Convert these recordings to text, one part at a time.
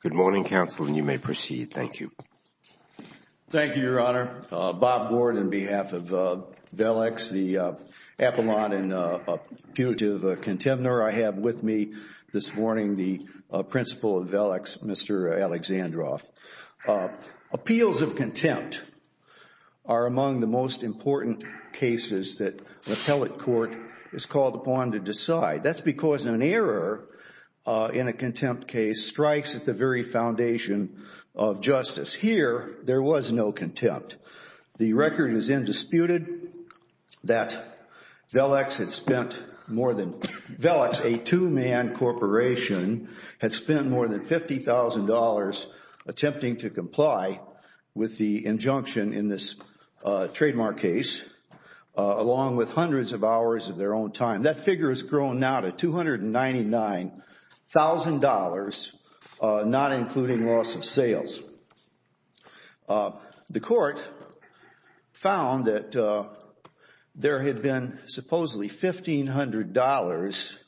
Good morning, counsel, and you may proceed. Thank you. Thank you, Your Honor. Bob Ward on behalf of VELEX, the epilogue and punitive contender I have with me this morning, the principal of VELEX, Mr. Alexandrov. Appeals of contempt are among the most important cases that appellate court is called upon to decide. That's because an error in a contempt case strikes at the very foundation of justice. Here, there was no contempt. The record is indisputed that VELEX, a two-man corporation, had spent more than $50,000 attempting to comply with the injunction in this trademark case, along with hundreds of hours of their own time. That figure has grown now to $299,000, not including loss of sales. The court found that there had been supposedly $1,500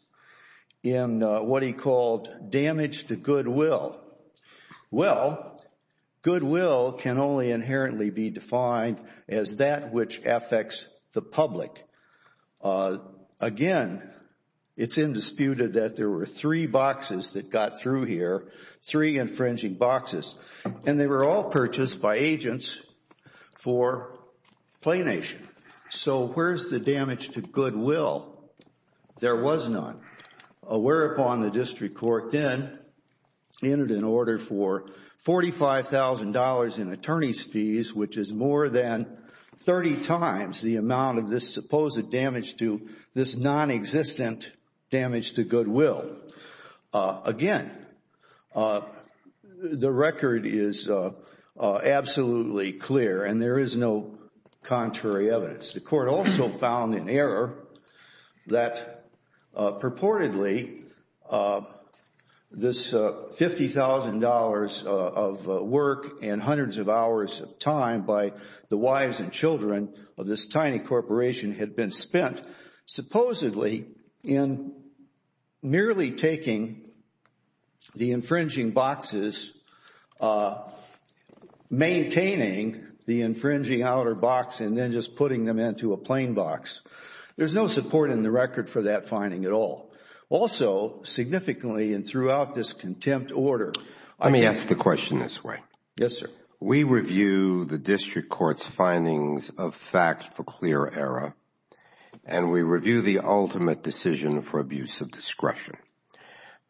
in what he called damage to goodwill. Well, goodwill can only inherently be defined as that which affects the public. Again, it's indisputed that there were three boxes that got through here, three infringing boxes, and they were all purchased by agents for planation. So where's the damage to goodwill? There was none. Whereupon, the district court then entered an order for $45,000 in attorney's fees, which is more than 30 times the amount of this supposed damage to this non-existent damage to goodwill. Again, the record is absolutely clear, and there is no contrary evidence. The court also found in error that purportedly this $50,000 of work and hundreds of hours of time by the wives and children of this tiny corporation had been spent supposedly in merely taking the infringing boxes, maintaining the infringing outer box, and then just putting them into a plain box. There's no support in the record for that finding at all. Also, significantly and throughout this contempt order, I mean Let me ask the question this way. Yes, sir. We review the district court's findings of facts for clear error, and we review the ultimate decision for abuse of discretion.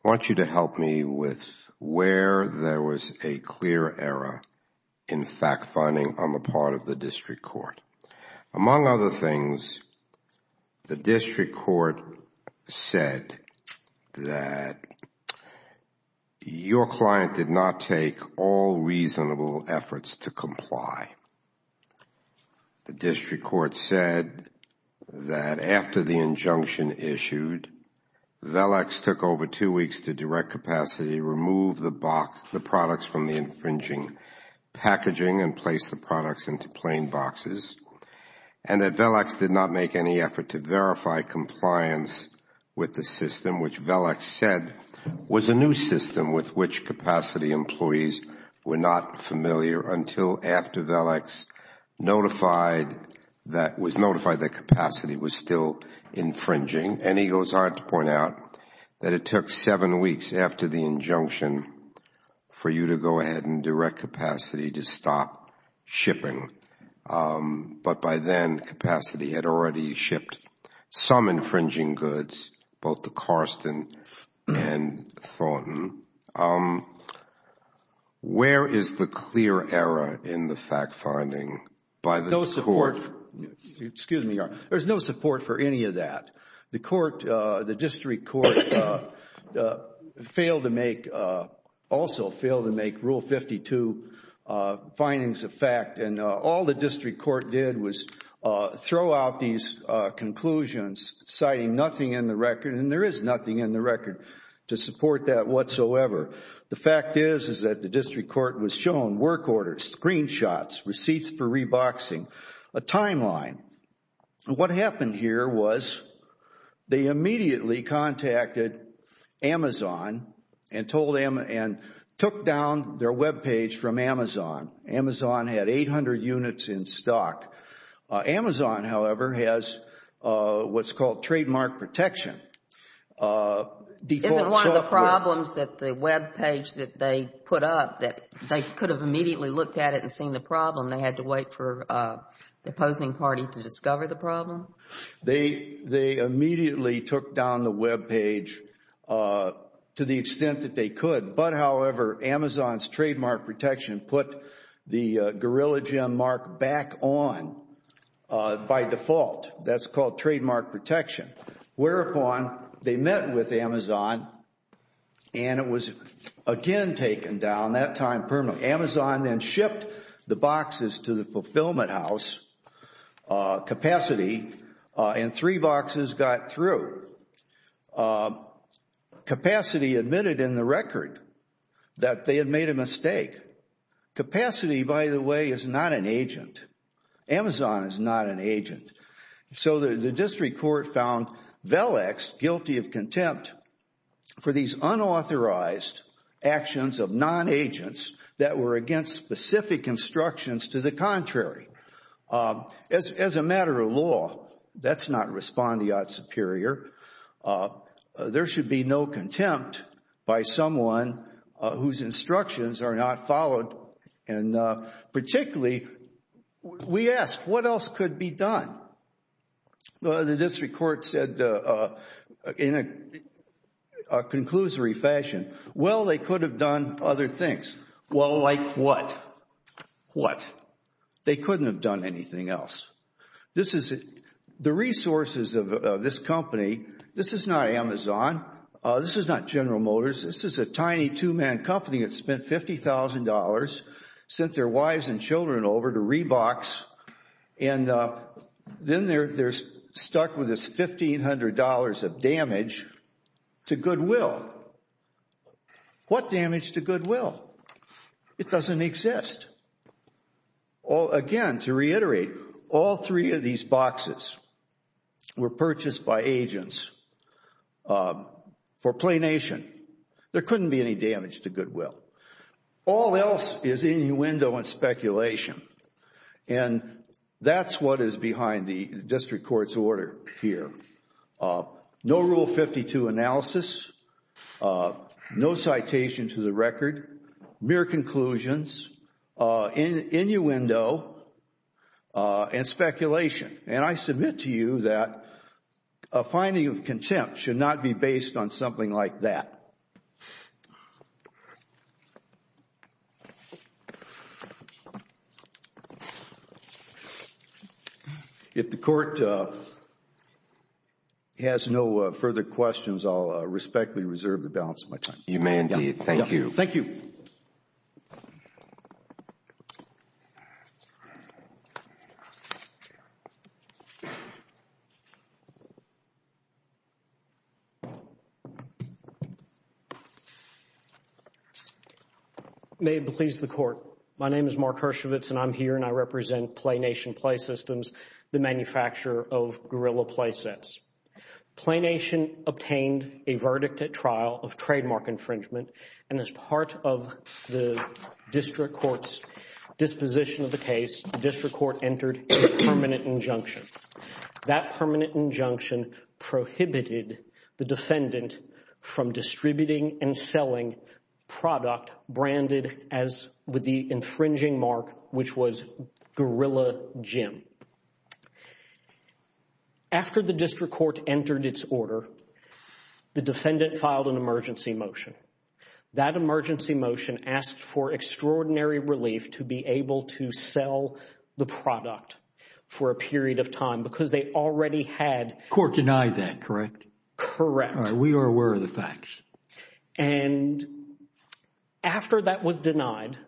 I want you to help me with where there was a clear error in fact finding on the part of the district court. Among other things, the district court said that your client did not take all reasonable efforts to comply. The district court said that after the injunction issued, Velex took over two weeks to direct capacity, remove the products from the infringing packaging and place the products into plain boxes, and that Velex did not make any effort to verify compliance with the system, which Velex said was a new system with which capacity employees were not familiar until after Velex was notified that capacity was still infringing. And he goes on to point out that it took seven weeks after the injunction for you to go ahead and direct capacity to stop shipping. But by then, capacity had already shipped some infringing goods, both the Karsten and Thornton. Where is the clear error in the fact finding by the court? There is no support for any of that. The district court also failed to make Rule 52 findings a fact, and all the district court did was throw out these conclusions citing nothing in the record, and there is nothing in the record to support that whatsoever. The fact is that the district court was shown work orders, screenshots, receipts for reboxing, a timeline. What happened here was they immediately contacted Amazon and took down their webpage from Amazon. Amazon had 800 units in stock. Amazon, however, has what is called trademark protection. Isn't one of the problems that the webpage that they put up that they could have immediately looked at it and seen the problem, they had to wait for the opposing party to discover the problem? They immediately took down the webpage to the extent that they could, but however, Amazon's trademark protection put the Gorilla Gym mark back on by default. That's called trademark protection. Whereupon, they met with Amazon, and it was again taken down, that time permanently. Amazon then shipped the boxes to the Fulfillment House capacity, and three boxes got through. Capacity admitted in the record that they had made a mistake. Capacity, by the way, is not an agent. Amazon is not an agent. So the district court found VELEX guilty of contempt for these unauthorized actions of non-agents that were against specific instructions to the contrary. As a matter of law, that's not respondeat superior. There should be no contempt by someone whose instructions are not followed, and particularly, we asked what else could be done. The district court said in a conclusory fashion, well, they could have done other things. Well, like what? What? They couldn't have done anything else. The resources of this company, this is not Amazon. This is not General Motors. This is a tiny two-man company that spent $50,000, sent their wives and children over to Reeboks, and then they're stuck with this $1,500 of damage to goodwill. What damage to goodwill? It doesn't exist. Again, to reiterate, all three of these boxes were purchased by agents for Play Nation. There couldn't be any damage to goodwill. All else is innuendo and speculation, and that's what is behind the district court's order here. No Rule 52 analysis, no citation to the record, mere conclusions, innuendo, and speculation, and I submit to you that a finding of contempt should not be based on something like that. If the Court has no further questions, I'll respectfully reserve the balance of my time. Humanty, thank you. Thank you. May it please the Court. My name is Mark Hershovitz, and I'm here, and I represent Play Nation Play Systems, the manufacturer of Guerrilla play sets. Play Nation obtained a verdict at trial of trademark infringement, and as part of the district court's disposition of the case, the district court entered a permanent injunction. That permanent injunction prohibited the defendant from distributing and selling product branded with the infringing mark which was Guerrilla Gym. After the district court entered its order, the defendant filed an emergency motion. That emergency motion asked for extraordinary relief to be able to sell the product for a period of time because they already had... Court denied that, correct? Correct. We are aware of the facts. And after that was denied,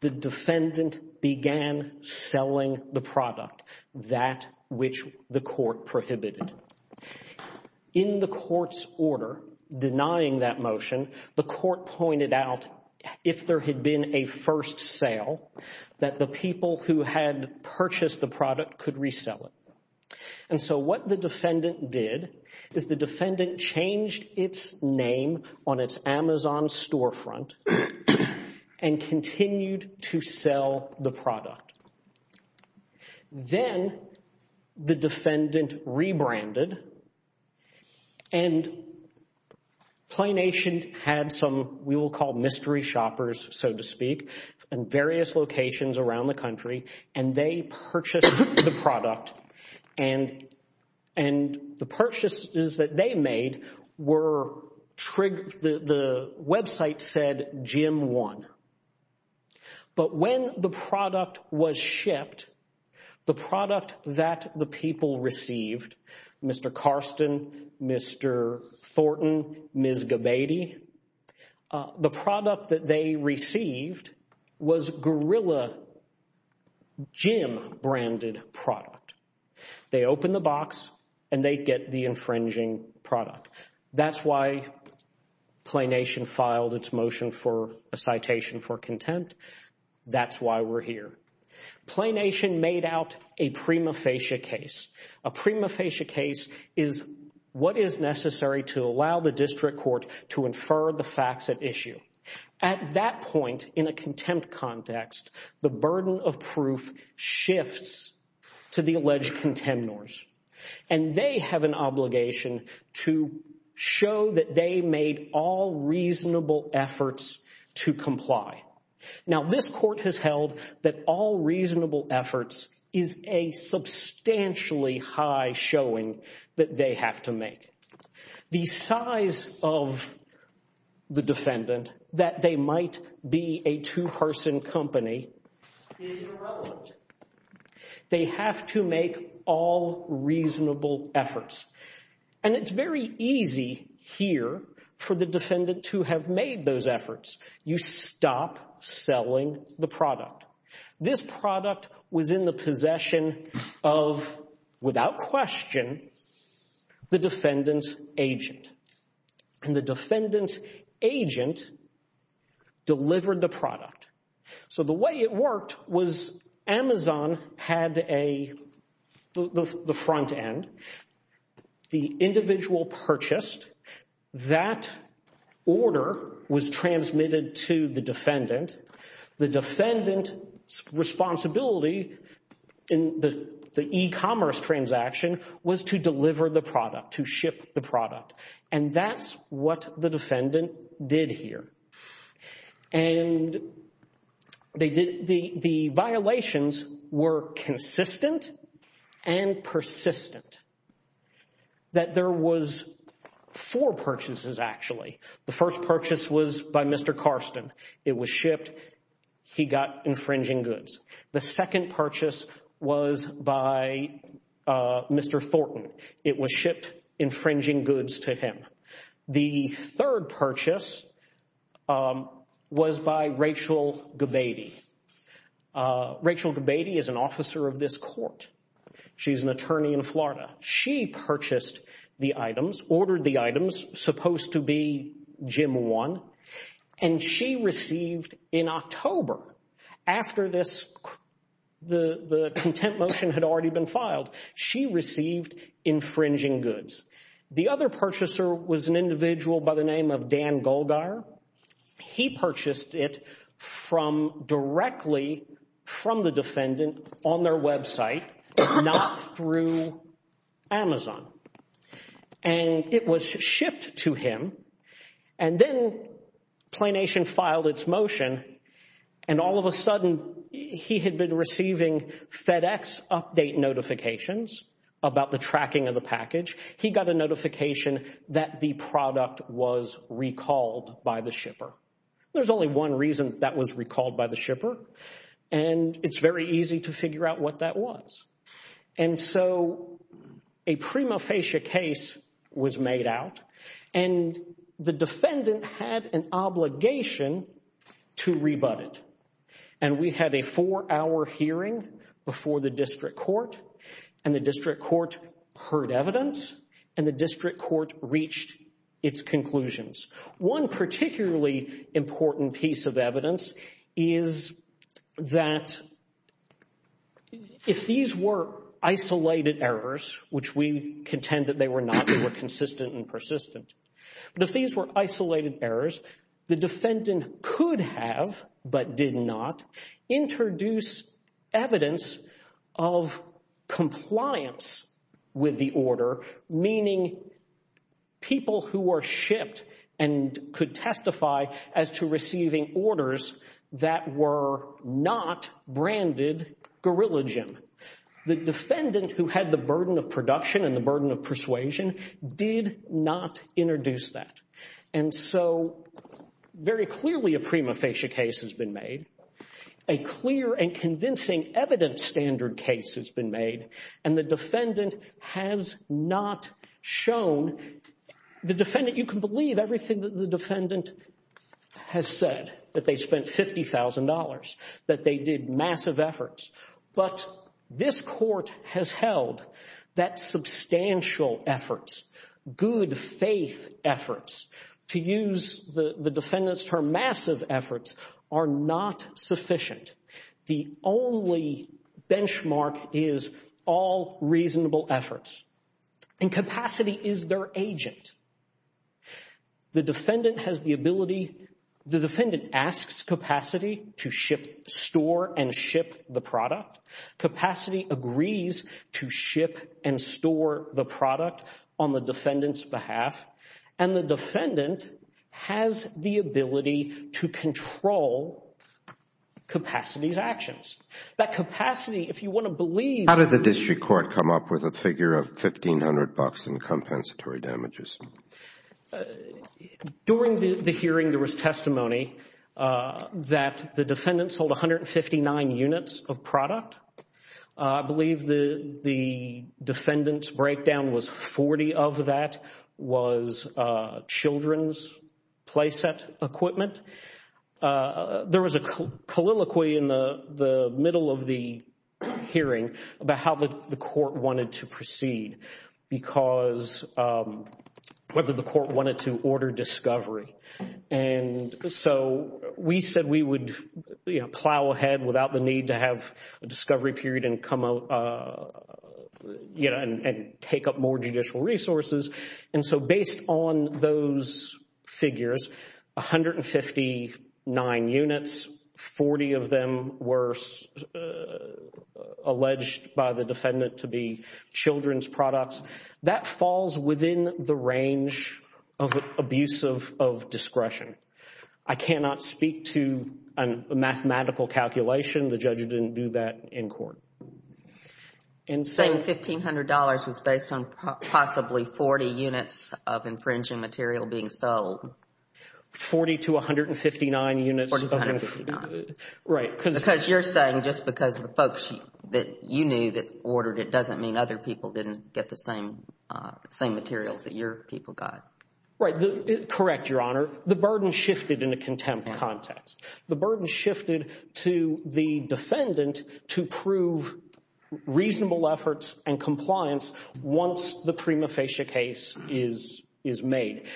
the defendant began selling the product, that which the court prohibited. In the court's order denying that motion, the court pointed out if there had been a first sale, that the people who had purchased the product could resell it. And so what the defendant did is the defendant changed its name on its Amazon storefront and continued to sell the product. Then the defendant rebranded, and Play Nation had some, we will call mystery shoppers, so to speak, in various locations around the country, and they Gym won. But when the product was shipped, the product that the people received, Mr. Karsten, Mr. Thornton, Ms. Gabady, the product that they received was Guerrilla Gym branded product. They opened the box and they get the infringing product. That's why Play Nation filed its motion for a citation for contempt. That's why we're here. Play Nation made out a prima facie case. A prima facie case is what is necessary to allow the district court to infer the facts at issue. At that point in a contempt context, the burden of proof shifts to the alleged contemnors, and they have an obligation to show that they made all reasonable efforts to comply. Now, this court has held that all reasonable efforts is a substantially high showing that they have to make. The size of the defendant, that they might be a two-person company, is irrelevant. They have to make all reasonable efforts, and it's very easy here for the defendant to have made those efforts. You stop selling the product. This product was in the possession of, without question, the defendant's agent, and the defendant's agent delivered the product. So the way it worked was Amazon had the front end. The individual purchased. That order was transmitted to the defendant. The defendant's responsibility in the e-commerce transaction was to deliver the product, to ship the product. And that's what the defendant did here, and the violations were consistent and persistent that there was four purchases, actually. The first purchase was by Mr. Karsten. It was shipped. He got infringing goods. The second purchase was by Mr. Thornton. It was shipped infringing goods to him. The third purchase was by Rachel Gabady. Rachel Gabady is an officer of this court. She's an attorney in Florida. She purchased the items, ordered the items, supposed to be Jim 1, and she received in October, after the contempt motion had already been filed, she received infringing goods. The other purchaser was an individual by the name of Dan Goldeyer. He purchased it from directly from the defendant on their website, not through Amazon. And it was shipped to him, and then Planation filed its motion, and all of a sudden he had been receiving FedEx update notifications about the tracking of the package. He got a notification that the product was recalled by the shipper. There's only one reason that was recalled by the shipper, and it's very easy to figure out what that was. And so a prima facie case was made out, and the defendant had an obligation to rebut it. And we had a four-hour hearing before the district court, and the district court heard evidence, and the district court reached its conclusions. One particularly important piece of evidence is that if these were isolated errors, which we contend that they were not, they were consistent and persistent, but if these were isolated errors, the defendant could have, but did not, introduce evidence of compliance with the order, meaning people who were shipped and could testify as to receiving orders that were not branded Gorillajim. The defendant who had the burden of production and the burden of persuasion did not introduce that. And so very clearly a prima facie case has been made, a clear and convincing evidence standard case has been made, and the defendant has not shown, you can believe everything that the defendant has said, that they spent $50,000, that they did massive efforts. But this court has held that substantial efforts, good faith efforts, to use the defendant's term, massive efforts, are not sufficient. The only benchmark is all reasonable efforts, and capacity is their agent. The defendant has the ability, the defendant asks capacity to ship, store, and ship the product. Capacity agrees to ship and store the product on the defendant's behalf, and the defendant has the ability to control capacity's actions. That capacity, if you want to believe- Did the country court come up with a figure of $1,500 in compensatory damages? During the hearing there was testimony that the defendant sold 159 units of product. I believe the defendant's breakdown was 40 of that was children's playset equipment. There was a colloquy in the middle of the hearing about how the court wanted to proceed, whether the court wanted to order discovery. And so we said we would plow ahead without the need to have a discovery period and take up more judicial resources. And so based on those figures, 159 units, 40 of them were alleged by the defendant to be children's products. That falls within the range of abuse of discretion. I cannot speak to a mathematical calculation. The judge didn't do that in court. Saying $1,500 was based on possibly 40 units of infringing material being sold. 40 to 159 units of- 40 to 159. Right. Because you're saying just because the folks that you knew that ordered it doesn't mean other people didn't get the same materials that your people got. Right. Correct, Your Honor. The burden shifted in a contempt context. The burden shifted to the defendant to prove reasonable efforts and compliance once the prima facie case is made.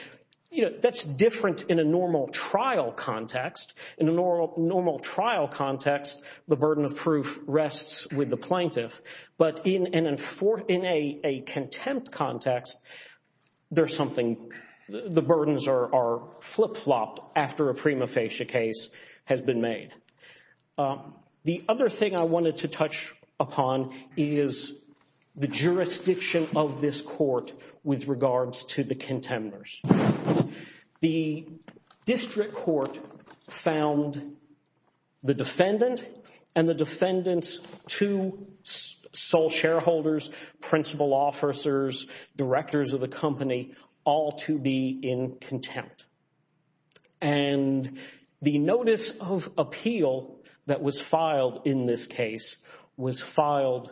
That's different in a normal trial context. In a normal trial context, the burden of proof rests with the plaintiff. But in a contempt context, there's something- the burdens are flip-flopped after a prima facie case has been made. The other thing I wanted to touch upon is the jurisdiction of this court with regards to the contenders. The district court found the defendant and the defendant's two sole shareholders, principal officers, directors of the company, all to be in contempt. And the notice of appeal that was filed in this case was filed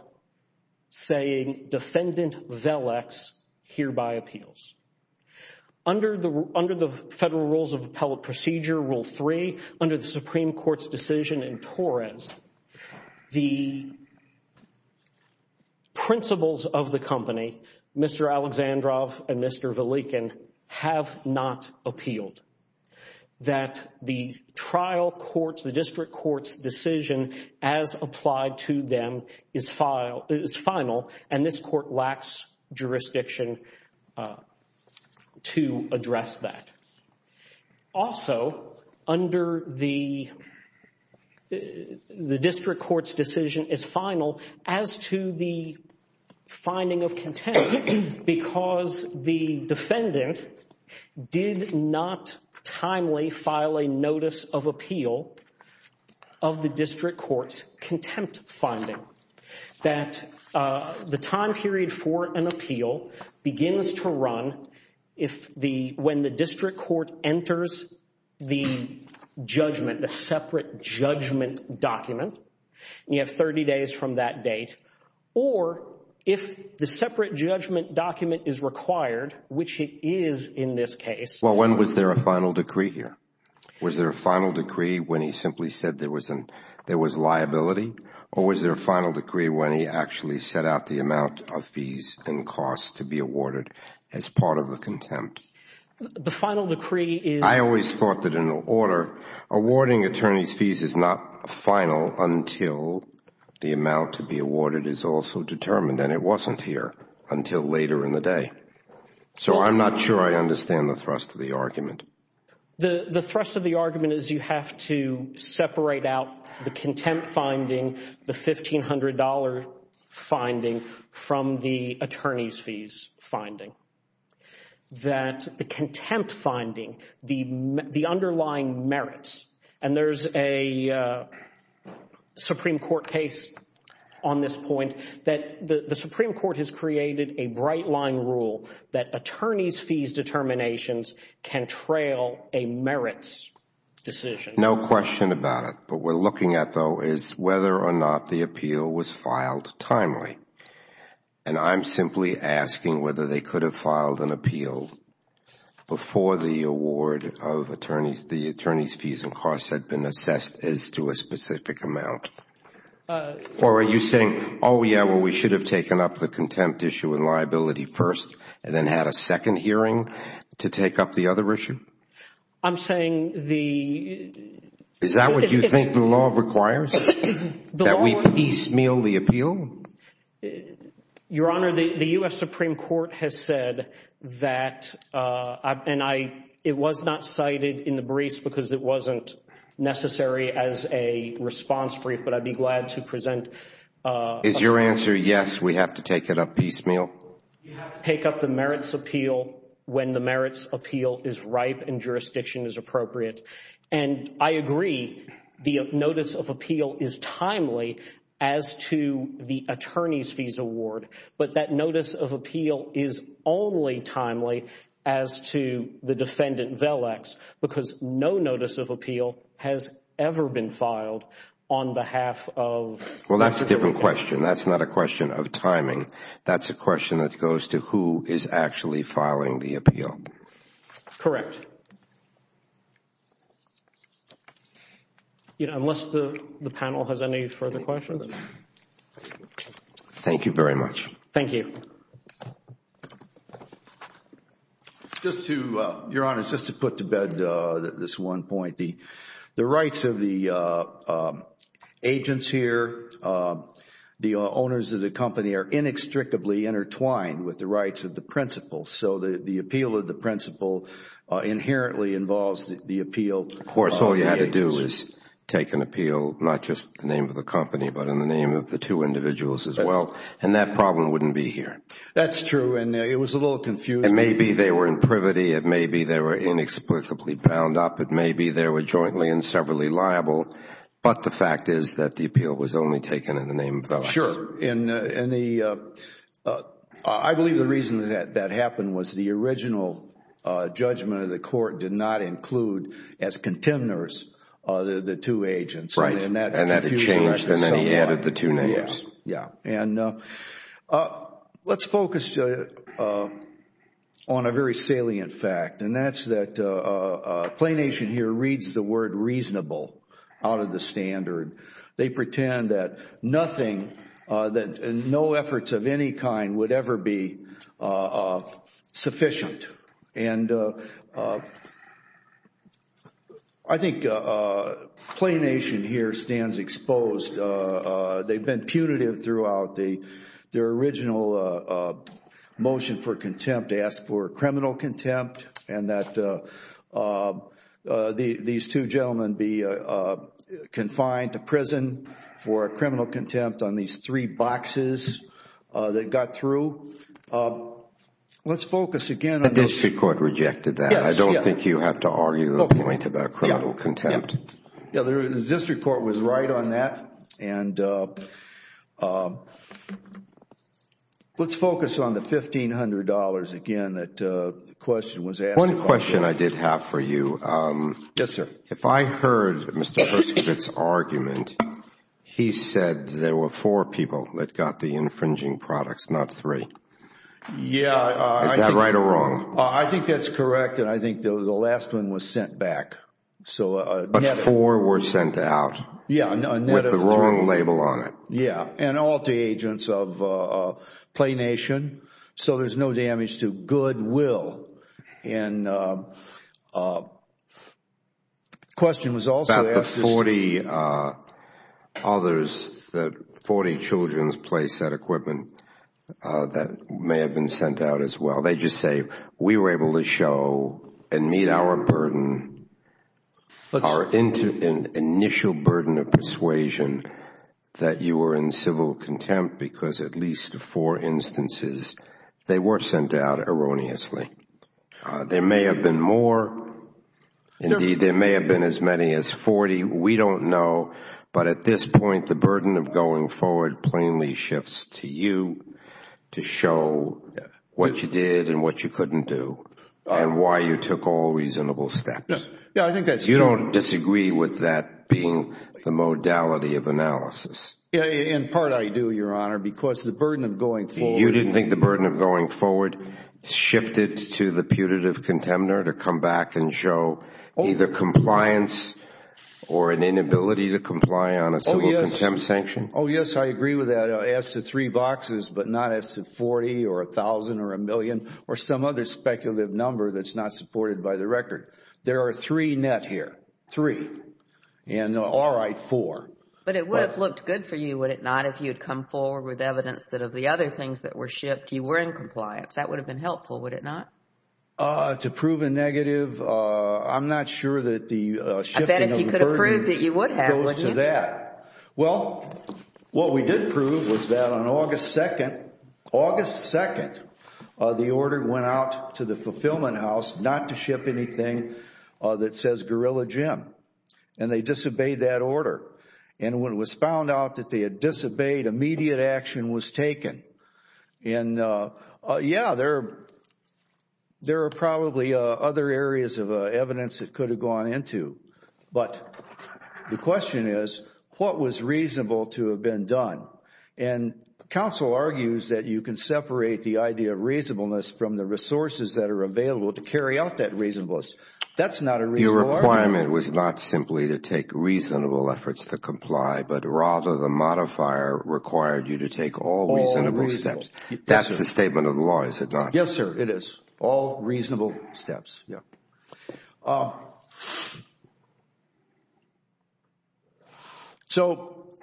saying, Defendant Velex hereby appeals. Under the Federal Rules of Appellate Procedure, Rule 3, under the Supreme Court's decision in Torres, the principals of the company, Mr. Alexandrov and Mr. Velekin, have not appealed. That the trial court's, the district court's decision as applied to them is final, and this court lacks jurisdiction to address that. Also, under the district court's decision is final as to the finding of contempt because the defendant did not timely file a notice of appeal of the district court's contempt finding. That the time period for an appeal begins to run if the- when the district court enters the judgment, the separate judgment document, and you have 30 days from that date, or if the separate judgment document is required, which it is in this case- The final decree when he actually set out the amount of fees and costs to be awarded as part of the contempt. The final decree is- I always thought that in order, awarding attorneys' fees is not final until the amount to be awarded is also determined, and it wasn't here until later in the day. So I'm not sure I understand the thrust of the argument. The thrust of the argument is you have to separate out the contempt finding, the $1,500 finding, from the attorneys' fees finding. That the contempt finding, the underlying merits, and there's a Supreme Court case on this point that the Supreme Court has created a bright-line rule that attorneys' fees determinations can trail a merits decision. No question about it. What we're looking at, though, is whether or not the appeal was filed timely. And I'm simply asking whether they could have filed an appeal before the award of attorneys- the attorneys' fees and costs had been assessed as to a specific amount. Or are you saying, oh, yeah, well, we should have taken up the contempt issue and liability first, and then had a second hearing to take up the other issue? I'm saying the- Is that what you think the law requires? That we piecemeal the appeal? Your Honor, the U.S. Supreme Court has said that, and it was not cited in the briefs because it wasn't necessary as a response brief, but I'd be glad to present- Is your answer yes, we have to take it up piecemeal? You have to take up the merits appeal when the merits appeal is ripe and jurisdiction is appropriate. And I agree, the notice of appeal is timely as to the attorneys' fees award. But that notice of appeal is only timely as to the defendant vellex, because no notice of appeal has ever been filed on behalf of- Well, that's a different question. That's not a question of timing. That's a question that goes to who is actually filing the appeal. Correct. Unless the panel has any further questions. Thank you very much. Thank you. Just to, Your Honor, just to put to bed this one point. The rights of the agents here, the owners of the company are inextricably intertwined with the rights of the principal. So the appeal of the principal inherently involves the appeal of the agents. Of course, all you had to do is take an appeal, not just the name of the company, but in the name of the two individuals as well. And that problem wouldn't be here. That's true, and it was a little confusing. And maybe they were in privity. It may be they were inexplicably bound up. It may be they were jointly and severally liable. But the fact is that the appeal was only taken in the name of vellex. Sure, and I believe the reason that that happened was the original judgment of the court did not include as contenders the two agents. Right, and that changed, and then he added the two names. Yeah. And let's focus on a very salient fact, and that's that PlayNation here reads the word reasonable out of the standard. They pretend that nothing, that no efforts of any kind would ever be sufficient. And I think PlayNation here stands exposed. They've been punitive throughout. Their original motion for contempt asked for criminal contempt and that these two gentlemen be confined to prison for criminal contempt on these three boxes that got through. Let's focus again on the— The district court rejected that. Yes, yes. I don't think you have to argue the point about criminal contempt. Yeah, the district court was right on that. And let's focus on the $1,500 again that the question was asked. One question I did have for you. Yes, sir. If I heard Mr. Hershkowitz's argument, he said there were four people that got the infringing products, not three. Yeah. Is that right or wrong? I think that's correct, and I think the last one was sent back. But four were sent out with the wrong label on it. Yeah, and all the agents of PlayNation, so there's no damage to goodwill. And the question was also asked— About the 40 others, the 40 children's play set equipment that may have been sent out as well. They just say, we were able to show and meet our burden, our initial burden of persuasion that you were in civil contempt because at least four instances they were sent out erroneously. There may have been more. Indeed, there may have been as many as 40. We don't know. But at this point, the burden of going forward plainly shifts to you to show what you did and what you couldn't do and why you took all reasonable steps. Yeah, I think that's true. You don't disagree with that being the modality of analysis. In part, I do, Your Honor, because the burden of going forward— You didn't think the burden of going forward shifted to the putative contender to come back and show either compliance or an inability to comply on a civil contempt sanction? Oh, yes, I agree with that. Ask the three boxes, but not ask the 40 or 1,000 or a million or some other speculative number that's not supported by the record. There are three net here, three. And all right, four. But it would have looked good for you, would it not, if you had come forward with evidence that of the other things that were shipped, you were in compliance. That would have been helpful, would it not? To prove a negative, I'm not sure that the shifting of the burden goes to that. I bet if you could have proved it, you would have, wouldn't you? Well, what we did prove was that on August 2, the order went out to the Fulfillment House not to ship anything that says guerrilla gym. And they disobeyed that order. And when it was found out that they had disobeyed, immediate action was taken. And, yeah, there are probably other areas of evidence that could have gone into. But the question is, what was reasonable to have been done? And counsel argues that you can separate the idea of reasonableness from the resources that are available to carry out that reasonableness. That's not a reasonable argument. The argument was not simply to take reasonable efforts to comply, but rather the modifier required you to take all reasonable steps. All reasonable. That's the statement of the law, is it not? Yes, sir, it is. All reasonable steps, yeah. So,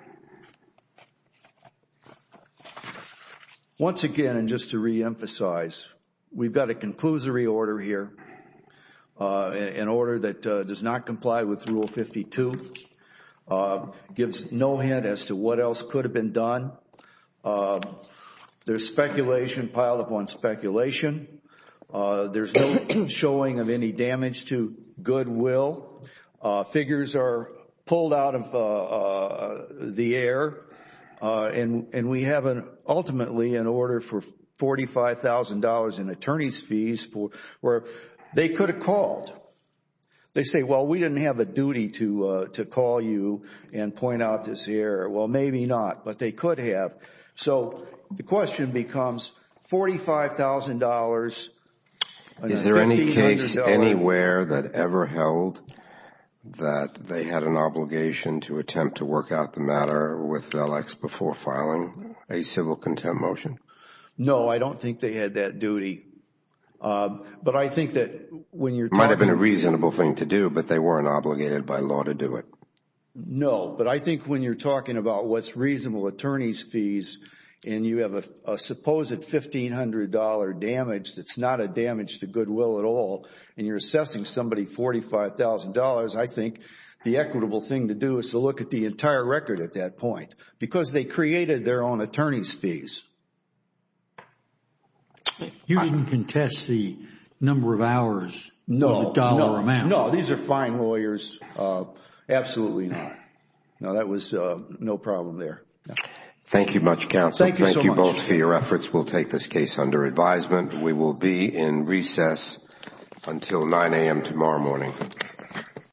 once again, and just to reemphasize, we've got a conclusory order here, an order that does not comply with Rule 52. Gives no hint as to what else could have been done. There's speculation piled upon speculation. There's no showing of any damage to goodwill. Figures are pulled out of the air. And we have, ultimately, an order for $45,000 in attorney's fees where they could have called. They say, well, we didn't have a duty to call you and point out this error. Well, maybe not, but they could have. So, the question becomes $45,000. Is there any case anywhere that ever held that they had an obligation to attempt to work out the matter with VELEX before filing a civil contempt motion? No, I don't think they had that duty. But I think that when you're talking about It might have been a reasonable thing to do, but they weren't obligated by law to do it. No, but I think when you're talking about what's reasonable attorney's fees and you have a supposed $1,500 damage that's not a damage to goodwill at all and you're assessing somebody $45,000, I think the equitable thing to do is to look at the entire record at that point. Because they created their own attorney's fees. You didn't contest the number of hours or the dollar amount. No, these are fine lawyers. Absolutely not. No, that was no problem there. Thank you much, counsel. Thank you both for your efforts. We'll take this case under advisement. We will be in recess until 9 a.m. tomorrow morning.